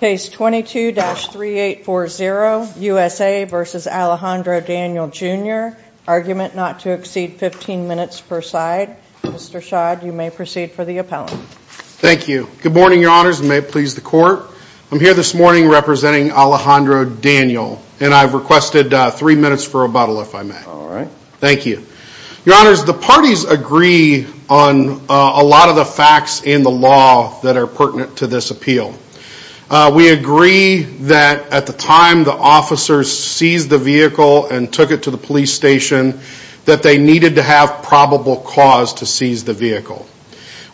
Case 22-3840, USA v. Alejandro Daniel Jr., argument not to exceed 15 minutes per side. Mr. Schad, you may proceed for the appellant. Thank you. Good morning, your honors. May it please the court. I'm here this morning representing Alejandro Daniel and I've requested three minutes for rebuttal, if I may. All right. Thank you. Your honors, the parties agree on a lot of the facts in the law that are pertinent to this appeal. We agree that at the time the officer seized the vehicle and took it to the police station, that they needed to have probable cause to seize the vehicle.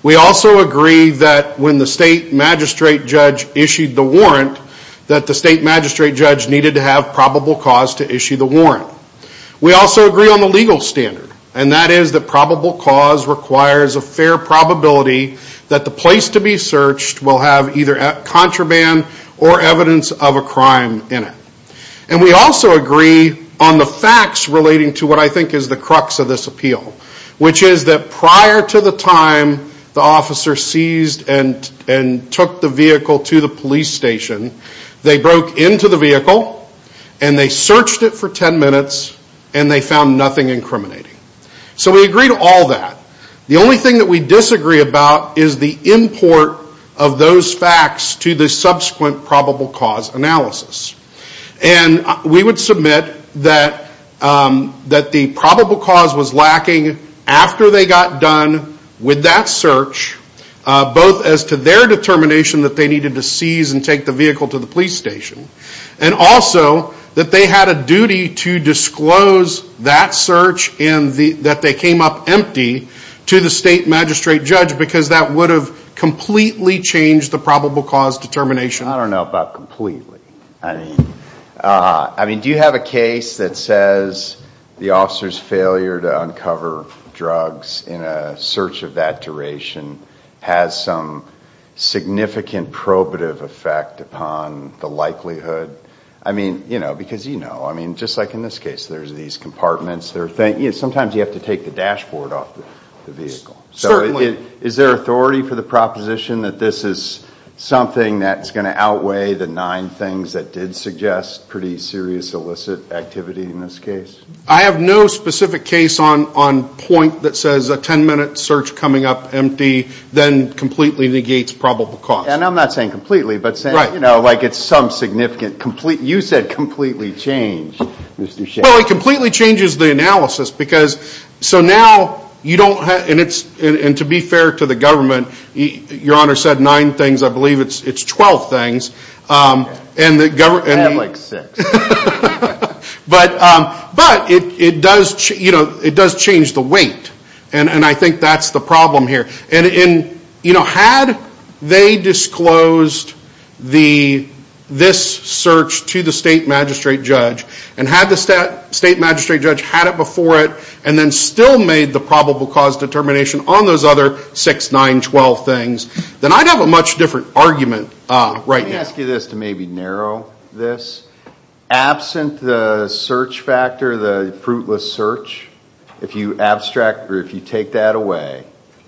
We also agree that when the state magistrate judge issued the warrant, that the state magistrate judge needed to have probable cause to issue the warrant. We also agree on the place to be searched will have either contraband or evidence of a crime in it. And we also agree on the facts relating to what I think is the crux of this appeal, which is that prior to the time the officer seized and took the vehicle to the police station, they broke into the vehicle and they searched it for 10 minutes and they found nothing incriminating. So we agree to all that. The only thing that we disagree about is the import of those facts to the subsequent probable cause analysis. And we would submit that the probable cause was lacking after they got done with that search, both as to their determination that they needed to seize and take the vehicle to the police station, and also that they had a duty to disclose that search and that they came up empty to the state magistrate judge because that would have completely changed the probable cause determination. I don't know about completely. I mean, do you have a case that says the officer's failure to uncover drugs in a search of that duration has some significant probative effect upon the likelihood? I mean, you know, because you know, I mean, just like in this case, there's these compartments. Sometimes you have to take the dashboard off the vehicle. So is there authority for the proposition that this is something that's going to outweigh the nine things that did suggest pretty serious illicit activity in this case? I have no specific case on point that says a 10 minute search coming up empty then completely negates probable cause. And I'm not saying changes the analysis because so now you don't have and it's and to be fair to the government, your honor said nine things. I believe it's it's 12 things. And the government had like six. But but it does, you know, it does change the weight. And I think that's the problem here. And in, you know, had they disclosed the this search to the state magistrate judge, and had the state magistrate judge had it before it, and then still made the probable cause determination on those other six, nine, twelve things, then I'd have a much different argument right now. Let me ask you this to maybe narrow this. Absent the search factor, the fruitless search, if you abstract or if you take that away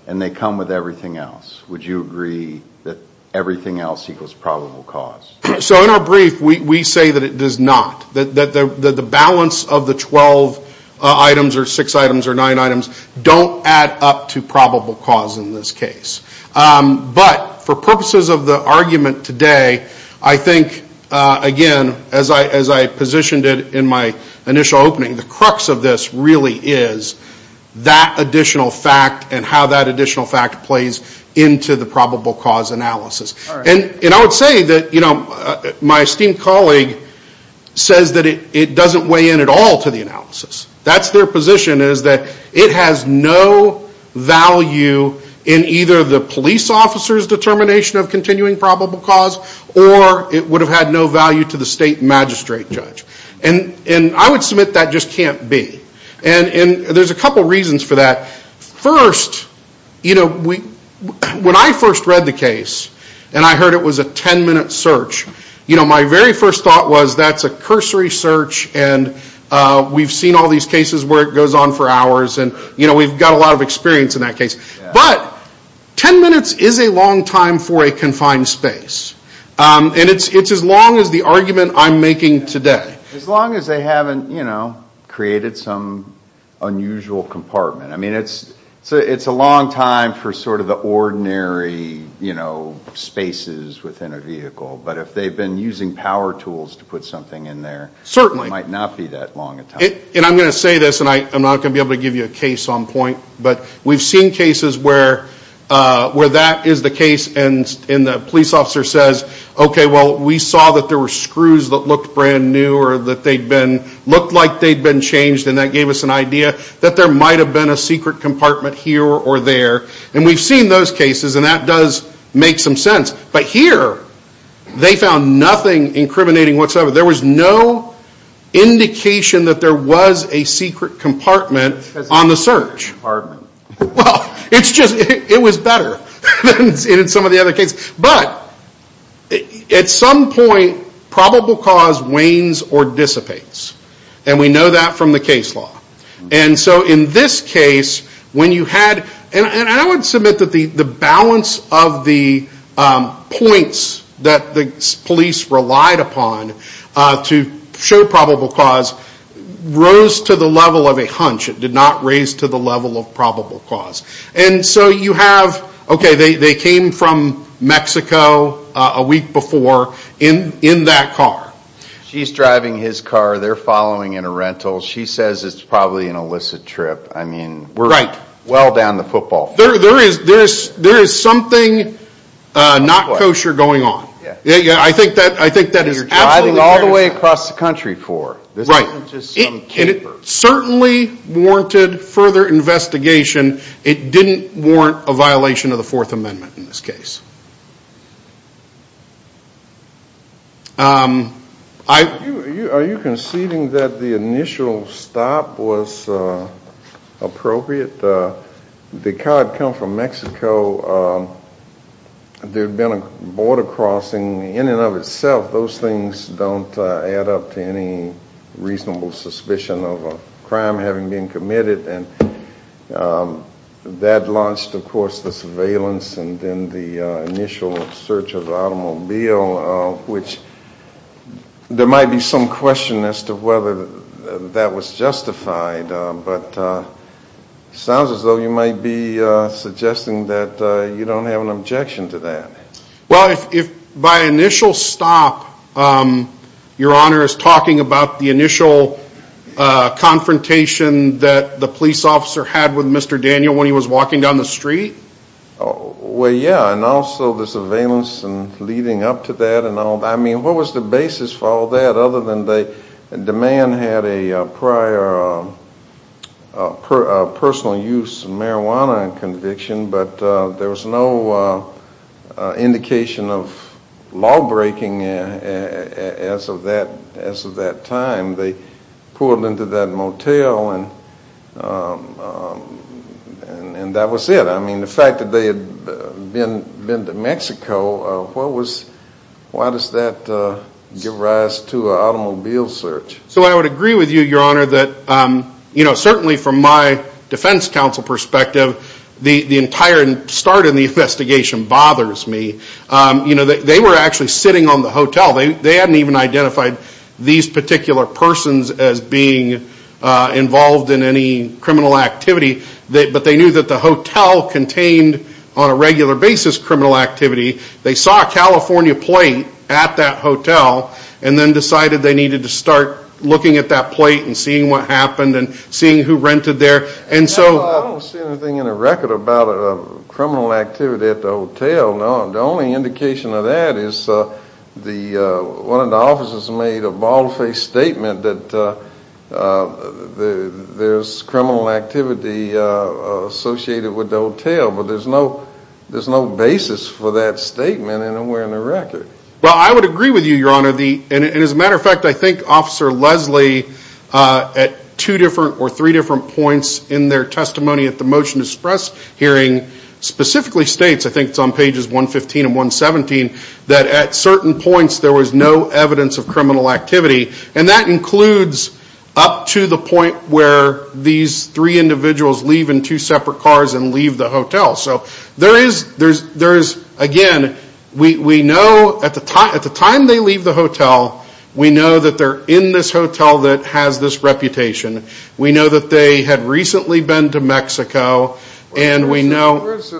and they come with everything else, would you agree that everything else equals probable cause? So in our brief, we say that it does not, that the balance of the 12 items or six items or nine items don't add up to probable cause in this case. But for purposes of the argument today, I think, again, as I positioned it in my initial opening, the crux of this really is that additional fact and how that additional fact plays into the probable cause analysis. And I would say that, you know, my esteemed colleague says that it doesn't weigh in at all to the analysis. That's their position is that it has no value in either the police officer's determination of continuing probable cause, or it would have had no value to the state magistrate judge. And I would submit that just can't be. And there's a couple of reasons for that. First, you know, when I first read the case and I heard it was a 10-minute search, you know, my very first thought was that's a cursory search and we've seen all these cases where it goes on for hours and, you know, we've got a lot of experience in that case. But 10 minutes is a long time for a confined space. And it's as long as the some unusual compartment. I mean, it's a long time for sort of the ordinary, you know, spaces within a vehicle. But if they've been using power tools to put something in there, it might not be that long a time. And I'm going to say this, and I'm not going to be able to give you a case on point, but we've seen cases where that is the case and the police officer says, okay, well, we saw that there were screws that looked brand new or that they'd been, looked like they'd been changed and that gave us an idea that there might have been a secret compartment here or there. And we've seen those cases and that does make some sense. But here, they found nothing incriminating whatsoever. There was no indication that there was a secret compartment on the search. Well, it's just, it was better than some of the other cases. But at some point, probable cause wanes or dissipates. And we know that from the case law. And so in this case, when you had, and I would submit that the balance of the points that the police relied upon to show probable cause rose to the level of a hunch. It did not raise to the level of probable cause. And so you have, okay, they came from Mexico a week before in that car. She's driving his car. They're following in a rental. She says it's probably an illicit trip. I mean, we're well down the football field. There is something not kosher going on. I think that is absolutely fair to say. Driving all the way across the country for. Right. And it certainly warranted further investigation. It didn't warrant a violation of the Fourth Amendment in this case. Are you conceding that the initial stop was appropriate? The car had come from Mexico. There had been a border crossing in and of itself. Those things don't add up to any reasonable suspicion of a crime having been committed. And that launched, of course, the surveillance and then the initial search of the automobile, which there might be some question as to whether that was justified. But it sounds as though you might be suggesting that you don't have an objection to that. Well, if by initial stop, your honor is talking about the initial confrontation that the police officer had with Mr. Daniel when he was walking down the street? Well, yeah. And also the surveillance and leading up to that and all. I mean, what was the basis for all that other than the man had a prior personal use of marijuana conviction, but there was no indication of law breaking as of that time. They pulled into that motel and that was it. I mean, the fact that they had been to Mexico, why does that give rise to an automobile search? So I would agree with you, your honor, that certainly from my defense counsel perspective, the entire start in the investigation bothers me. They were actually sitting on the hotel. They hadn't even identified these particular persons as being involved in any criminal activity, but they knew that the hotel contained on a regular basis criminal activity. They saw a looking at that plate and seeing what happened and seeing who rented there. And so I don't see anything in a record about a criminal activity at the hotel. No, the only indication of that is one of the officers made a bald-faced statement that there's criminal activity associated with the hotel, but there's no basis for that statement anywhere in the record. Well, I would agree with you, your honor. And as a matter of fact, I think Officer Leslie at two different or three different points in their testimony at the motion to express hearing specifically states, I think it's on pages 115 and 117, that at certain points there was no evidence of criminal activity. And that includes up to the point where these three individuals leave in two separate cars and leave the hotel. So there is, again, we know at the time they leave the hotel, we know that they're in this hotel that has this reputation. We know that they had recently been to Mexico, and we know... This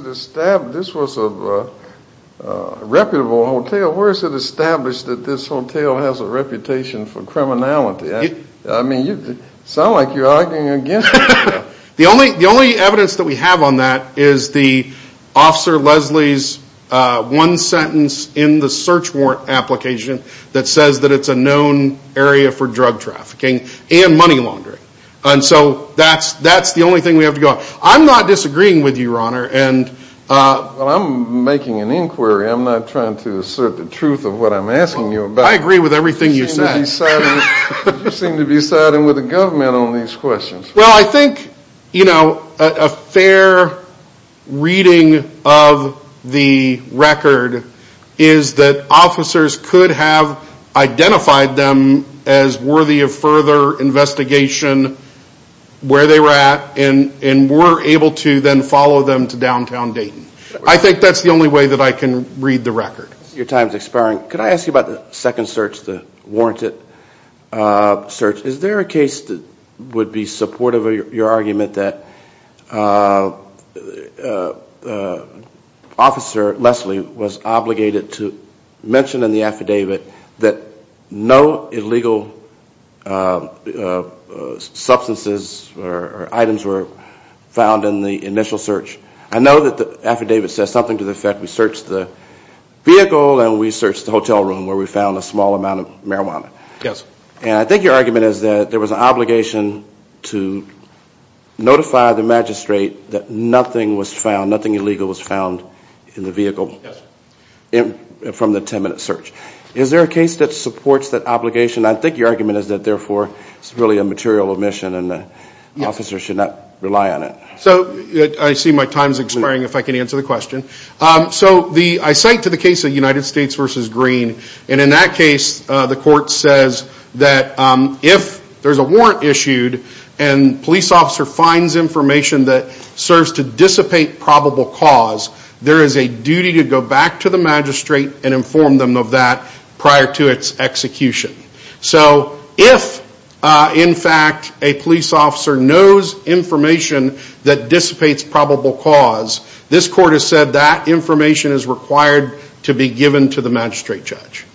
was a reputable hotel. Where is it established that this hotel has a reputation for criminality? I mean, you sound like you're arguing again. The only evidence that we have on that is the Officer Leslie's one sentence in the search warrant application that says that it's a known area for drug trafficking and money laundering. And so that's the only thing we have to go on. I'm not disagreeing with you, your honor. Well, I'm making an inquiry. I'm not trying to assert the truth of what I'm asking you about. I agree with everything you said. You seem to be siding with the government on these questions. Well, I think a fair reading of the record is that officers could have identified them as worthy of further investigation where they were at and were able to then follow them to downtown Dayton. I think that's the only way that I can read the record. Your time is expiring. Could I ask you about the second search, the warranted search? Is there a case that would be supportive of your argument that Officer Leslie was obligated to mention in the affidavit that no illegal substances or items were found in the initial search? I know that the affidavit says something to the effect we searched the vehicle and we searched the hotel room where we found a small amount of marijuana. Yes. And I think your argument is that there was an obligation to notify the magistrate that nothing was found, nothing illegal was found in the vehicle from the 10-minute search. Is there a case that supports that obligation? I think your argument is that therefore it's really a material omission and the officer should not rely on it. I see my time is expiring if I can answer the question. I cite to the case of United States v. Green and in that case the court says that if there's a warrant issued and police officer finds information that serves to dissipate probable cause, there is a duty to go back to the magistrate and inform them of that prior to its execution. So if in fact a police officer knows information that dissipates probable cause, this court has said that information is required to be given to the magistrate judge.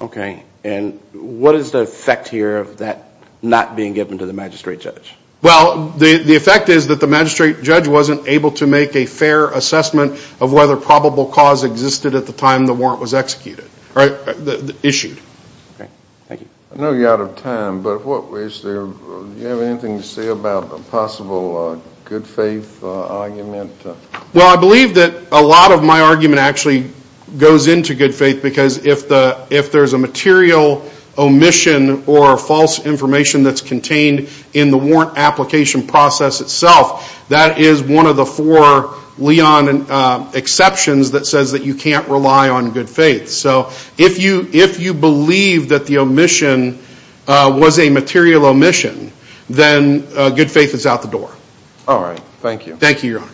Okay. And what is the effect here of that not being given to the magistrate judge? Well, the effect is that the magistrate judge wasn't able to make a fair assessment of whether probable cause existed at the time the warrant was executed, issued. Okay. Thank you. I know you're out of time, but do you have anything to say about a possible good faith argument? Well, I believe that a lot of my argument actually goes into good faith because if there's a material omission or false information that's contained in the warrant application process itself, that is one of the four Leon exceptions that says that you can't rely on that the omission was a material omission, then good faith is out the door. All right. Thank you. Thank you, your honor.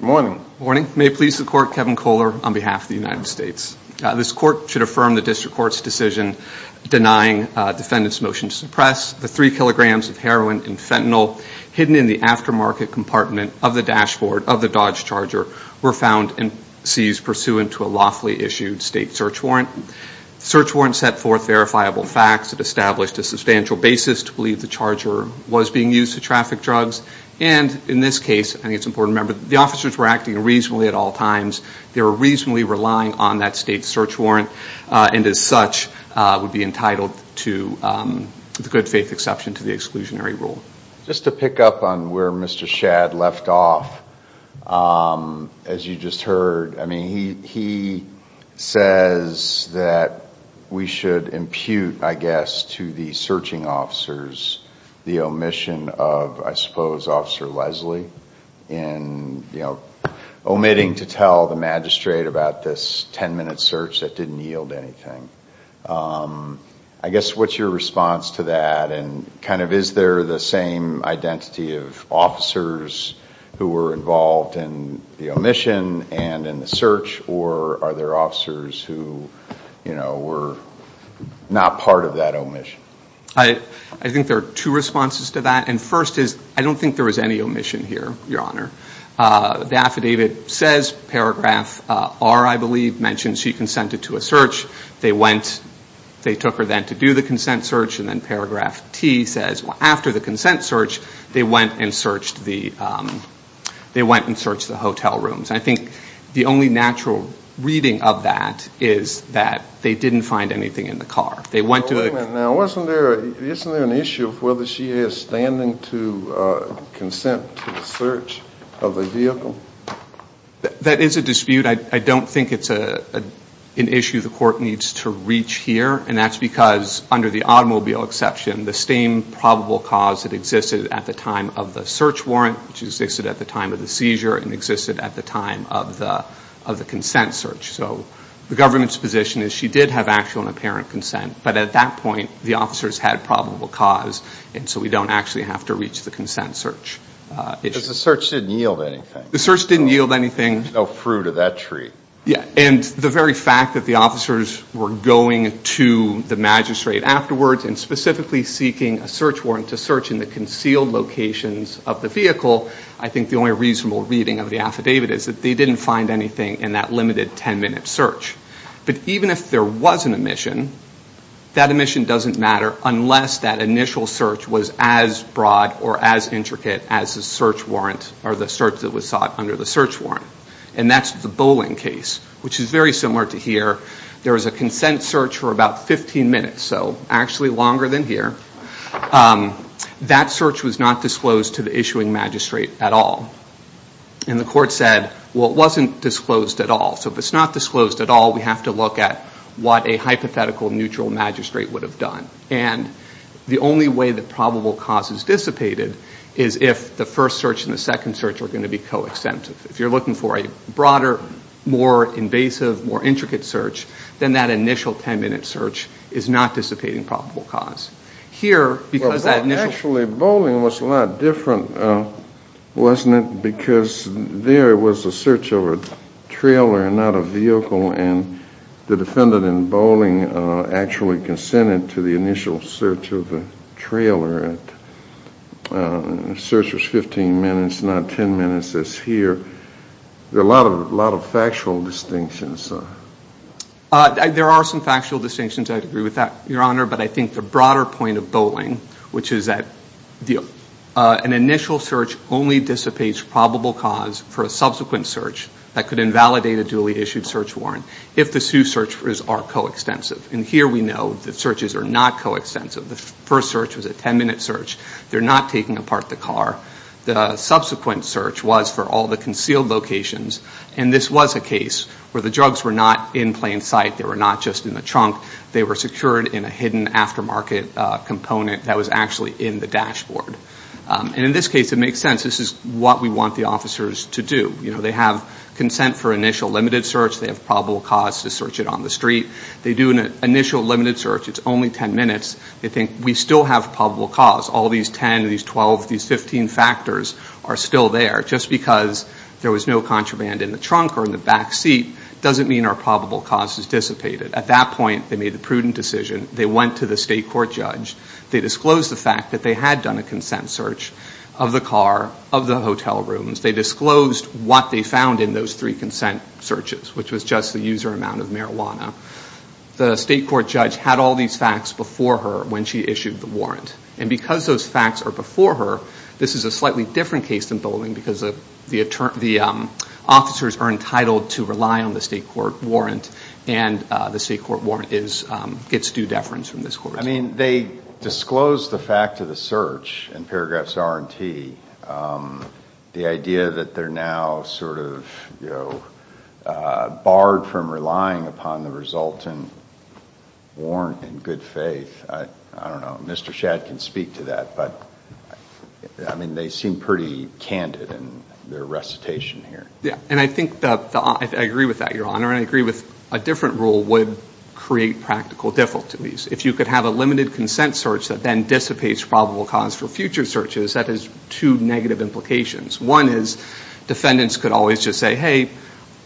Good morning. Good morning. May it please the court, Kevin Kohler on behalf of the United States. This court should affirm the district court's decision denying defendant's motion to suppress the three kilograms of heroin and fentanyl hidden in the aftermarket compartment of the dashboard of the Dodge Charger were found and seized pursuant to a lawfully issued state search warrant. Search warrant set forth verifiable facts that established a substantial basis to believe the Charger was being used to traffic drugs. And in this case, I think it's important to remember, the officers were acting reasonably at all times. They were reasonably relying on that state search warrant and as such would be entitled to the good faith exception to the exclusionary rule. Just to pick up on where Mr. Shadd left off, as you just heard, I mean, he says that we should impute, I guess, to the searching officers, the omission of, I suppose, Officer Leslie in, you know, omitting to tell the magistrate about this 10 minute search that didn't yield anything. I guess, what's your response to that? And kind of, is there the same identity of officers who were involved in the omission and in the search or are there officers who, you know, were not part of that omission? I think there are two responses to that. And first is, I don't think there was any omission here, Your Honor. The affidavit says, paragraph R, I believe, mentions she consented to a search. They went, they took her then to do the consent search and then paragraph T says, after the consent search, they went and searched the hotel rooms. I think the only natural reading of that is that they didn't find anything in the car. They went to the... to the search of the vehicle. That is a dispute. I don't think it's an issue the court needs to reach here and that's because under the automobile exception, the same probable cause that existed at the time of the search warrant, which existed at the time of the seizure, and existed at the time of the consent search. So the government's position is she did have actual and apparent consent, but at that point, the officers had probable cause and so we don't actually have to reach the consent search. Because the search didn't yield anything. The search didn't yield anything. There's no fruit of that tree. Yeah, and the very fact that the officers were going to the magistrate afterwards and specifically seeking a search warrant to search in the concealed locations of the vehicle, I think the only reasonable reading of the affidavit is that they didn't find anything in that limited 10-minute search. But even if there was an omission, that omission doesn't matter unless that initial search was as broad or as intricate as the search warrant or the search that was sought under the search warrant. And that's the Bowling case, which is very similar to here. There was a consent search for about 15 minutes, so actually longer than here. That search was not disclosed to the issuing magistrate at all. And the court said, well, it wasn't disclosed at all. So if it's not disclosed at all, we have to look at what a hypothetical neutral magistrate would have done. And the only way that probable cause is dissipated is if the first search and the second search are going to be coextensive. If you're looking for a broader, more invasive, more intricate search, then that initial 10-minute search is not dissipating probable cause. Here, because that initial... Actually, Bowling was a lot different, wasn't it? Because there was a search of a trailer and not a vehicle, and the defendant in Bowling actually consented to the initial search of a trailer. The search was 15 minutes, not 10 minutes as here. There are a lot of factual distinctions. There are some factual distinctions. I agree with that, Your Honor. But I think the broader point of Bowling, which is that an initial search only dissipates probable cause for a subsequent search that could invalidate a duly issued search warrant if the two searches are coextensive. And here we know the searches are not coextensive. The first search was a 10-minute search. They're not taking apart the car. The subsequent search was for all the concealed locations. And this was a case where the drugs were not in plain sight. They were not just in the trunk. They were secured in a hidden aftermarket component that was actually in the dashboard. And in this case, it makes sense. This is what we want the officers to do. They have consent for initial limited search. They have probable cause to search it on the street. They do an initial limited search. It's only 10 minutes. They think, we still have probable cause. All these 10, these 12, these 15 factors are still there. Just because there was no contraband in the trunk or in the back seat doesn't mean our probable cause has dissipated. At that point, they made a prudent decision. They went to the state court judge. They disclosed the fact that they had done a consent search of the car, of the hotel rooms. They disclosed what they found in those three consent searches, which was just the user amount of marijuana. The state court judge had all these facts before her when she issued the warrant. And because those facts are before her, this is a slightly different case than Bowling because the officers are entitled to rely on the state court warrant, and the state court warrant gets due deference from this court. I mean, they disclosed the fact of the search in paragraphs R and T. The idea that they're now sort of, you know, barred from relying upon the resultant warrant in good faith, I don't know. Mr. Shad can speak to that, but I mean, they seem pretty candid in their recitation here. Yeah, and I think that, I agree with that, Your Honor, and I agree with a different rule would create practical difficulties. If you could have a limited consent search that then dissipates probable cause for future searches, that has two negative implications. One is defendants could always just say, hey,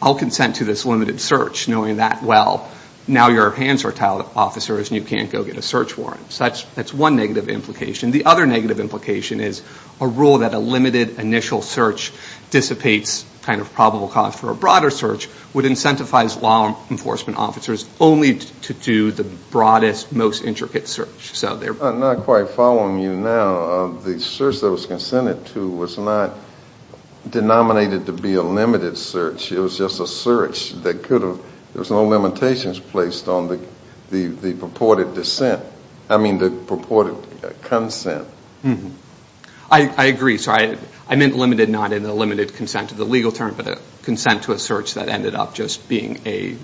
I'll consent to this limited search, knowing that, well, now your hands are tied, officers, and you can't go get a search warrant. So that's one negative implication. The other negative implication is a rule that a limited initial search dissipates kind of probable cause for a broader search would incentivize law most intricate search. I'm not quite following you now. The search that was consented to was not denominated to be a limited search. It was just a search that could have, there was no limitations placed on the purported consent. I agree. So I meant limited, not in the limited consent to the legal term, but a consent to a search that ended up just being a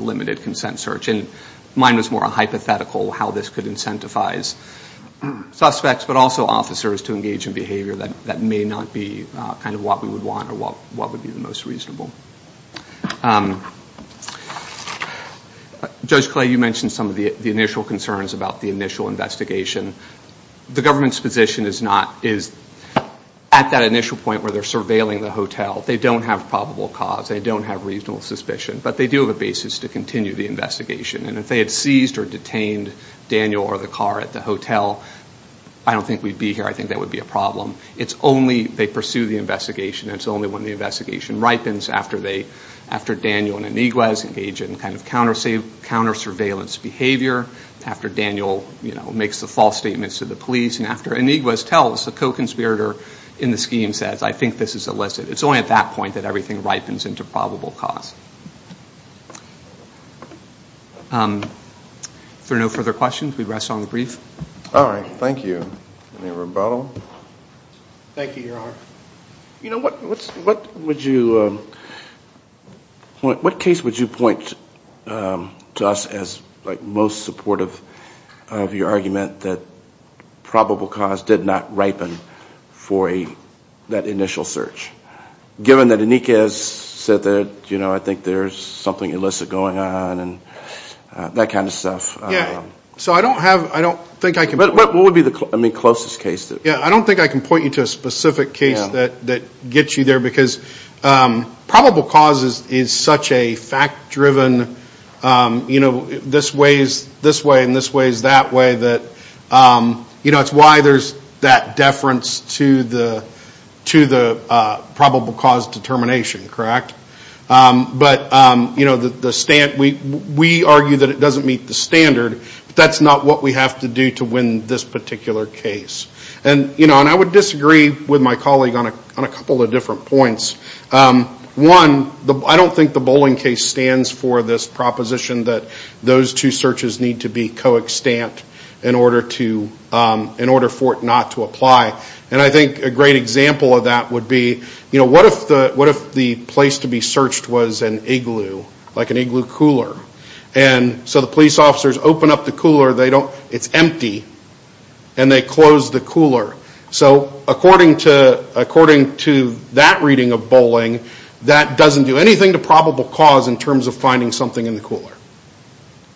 limited consent search. And mine was more a hypothetical, how this could incentivize suspects but also officers to engage in behavior that may not be kind of what we would want or what would be the most reasonable. Judge Clay, you mentioned some of the initial concerns about the initial investigation. The government's position is not, is at that initial point where they're surveilling the hotel, they don't have probable cause, they don't have reasonable suspicion, but they do have a basis to continue the investigation. And if they had seized or detained Daniel or the car at the hotel, I don't think we'd be here. I think that would be a problem. It's only, they pursue the investigation, it's only when the investigation ripens after they, after Daniel and Iniguez engage in kind of counter surveillance behavior, after Daniel, you know, makes the false statements to the police, and after Iniguez tells, the co-conspirator in the scheme says, I think this is illicit. It's only at that point that the investigation ripens into probable cause. If there are no further questions, we rest on the brief. All right, thank you. Any rebuttal? Thank you, Your Honor. You know, what would you, what case would you point to us as like most supportive of your argument that probable cause did not ripen for that initial search? Given that Iniguez said that, you know, I think there's something illicit going on and that kind of stuff. Yeah, so I don't have, I don't think I can. What would be the, I mean, closest case? Yeah, I don't think I can point you to a specific case that, that gets you there, because probable cause is, is such a fact-driven, you know, this way is this way and this way is that way that, you know, it's why there's that deference to the, to the probable cause determination, correct? But, you know, the, the, we argue that it doesn't meet the standard, but that's not what we have to do to win this particular case. And, you know, and I would disagree with my colleague on a, on a couple of different points. One, I don't think the co-extant in order to, in order for it not to apply. And I think a great example of that would be, you know, what if the, what if the place to be searched was an igloo, like an igloo cooler? And so the police officers open up the cooler, they don't, it's empty, and they close the cooler. So according to, according to that reading of Bolling, that doesn't do anything to probable cause in terms of finding something in the cooler.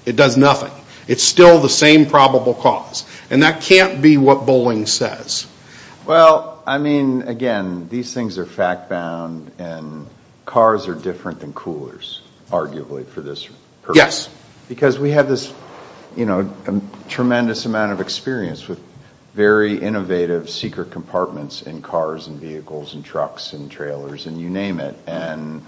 It does nothing. It's still the same probable cause. And that can't be what Bolling says. Well, I mean, again, these things are fact-bound and cars are different than coolers, arguably, for this purpose. Yes. Because we have this, you know, tremendous amount of experience with very innovative secret compartments in cars and vehicles and trucks and trailers and you name it. And,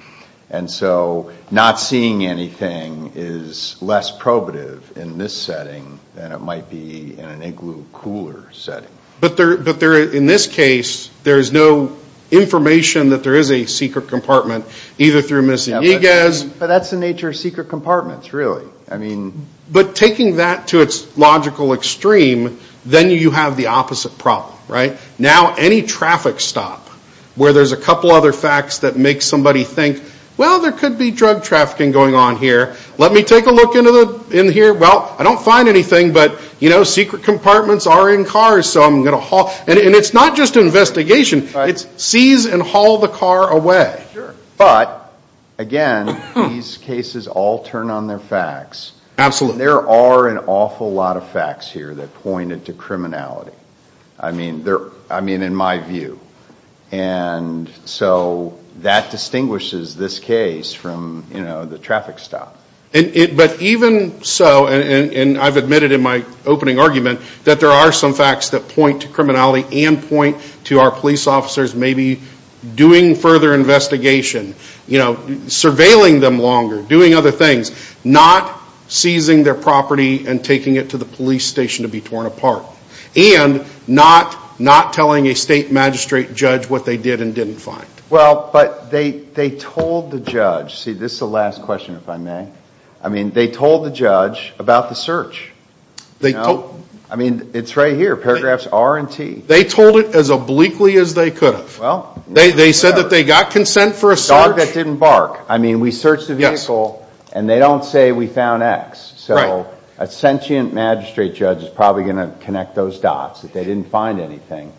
and so not seeing anything is less probative in this setting than it might be in an igloo cooler setting. But there, but there, in this case, there is no information that there is a secret compartment, either through missing EGAs. But that's the nature of secret compartments, really. I mean. But taking that to its logical extreme, then you have the opposite problem, right? Now, any traffic stop where there's a couple other facts that make somebody think, well, there could be drug trafficking going on here. Let me take a look into the, in here. Well, I don't find anything, but, you know, secret compartments are in cars, so I'm going to haul. And it's not just an investigation. It's seize and haul the car away. But, again, these cases all turn on their facts. Absolutely. There are an awful lot of facts here that pointed to criminality. I mean, they're, I mean, in my view. And so that distinguishes this case from, you know, the traffic stop. But even so, and I've admitted in my opening argument, that there are some facts that point to criminality and point to our police officers maybe doing further investigation, you know, surveilling them longer, doing other things, not seizing their property and taking it to the police station to be torn apart. And not, not telling a state magistrate judge what they did and didn't find. Well, but they told the judge, see, this is the last question, if I may. I mean, they told the judge about the search. I mean, it's right here, paragraphs R and T. They told it as obliquely as they could have. They said that they got consent for a search. A dog that didn't bark. I mean, we searched the vehicle and they don't say we found X. So a sentient magistrate judge is probably going to connect those dots that they didn't find anything.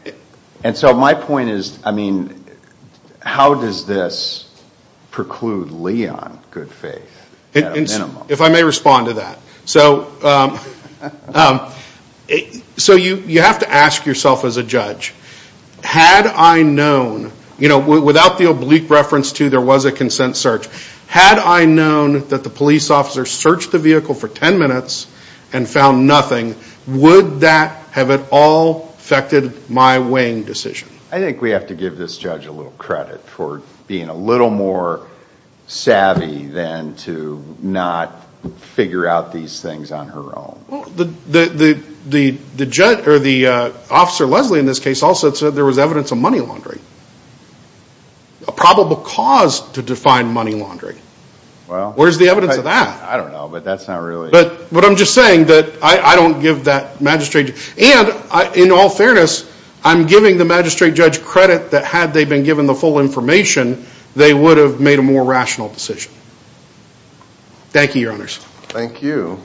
And so my point is, I mean, how does this preclude Lee on good faith at a minimum? If I may respond to that. So, so you have to ask yourself as a judge, had I known, you know, without the oblique reference to there was a consent search, had I known that the police officer searched the vehicle for 10 minutes and found nothing, would that have at all affected my weighing decision? I think we have to give this judge a little credit for being a little more savvy than to not figure out these things on her own. Well, the judge or the officer Leslie in this case also said there was evidence of money laundering. A probable cause to define money laundering. Well, where's the evidence of that? I don't know, but that's not really. But what I'm just saying that I don't give that magistrate and in all fairness, I'm giving the magistrate judge credit that had they been given the full information, they would have made a more rational decision. Thank you, your honors. Thank you.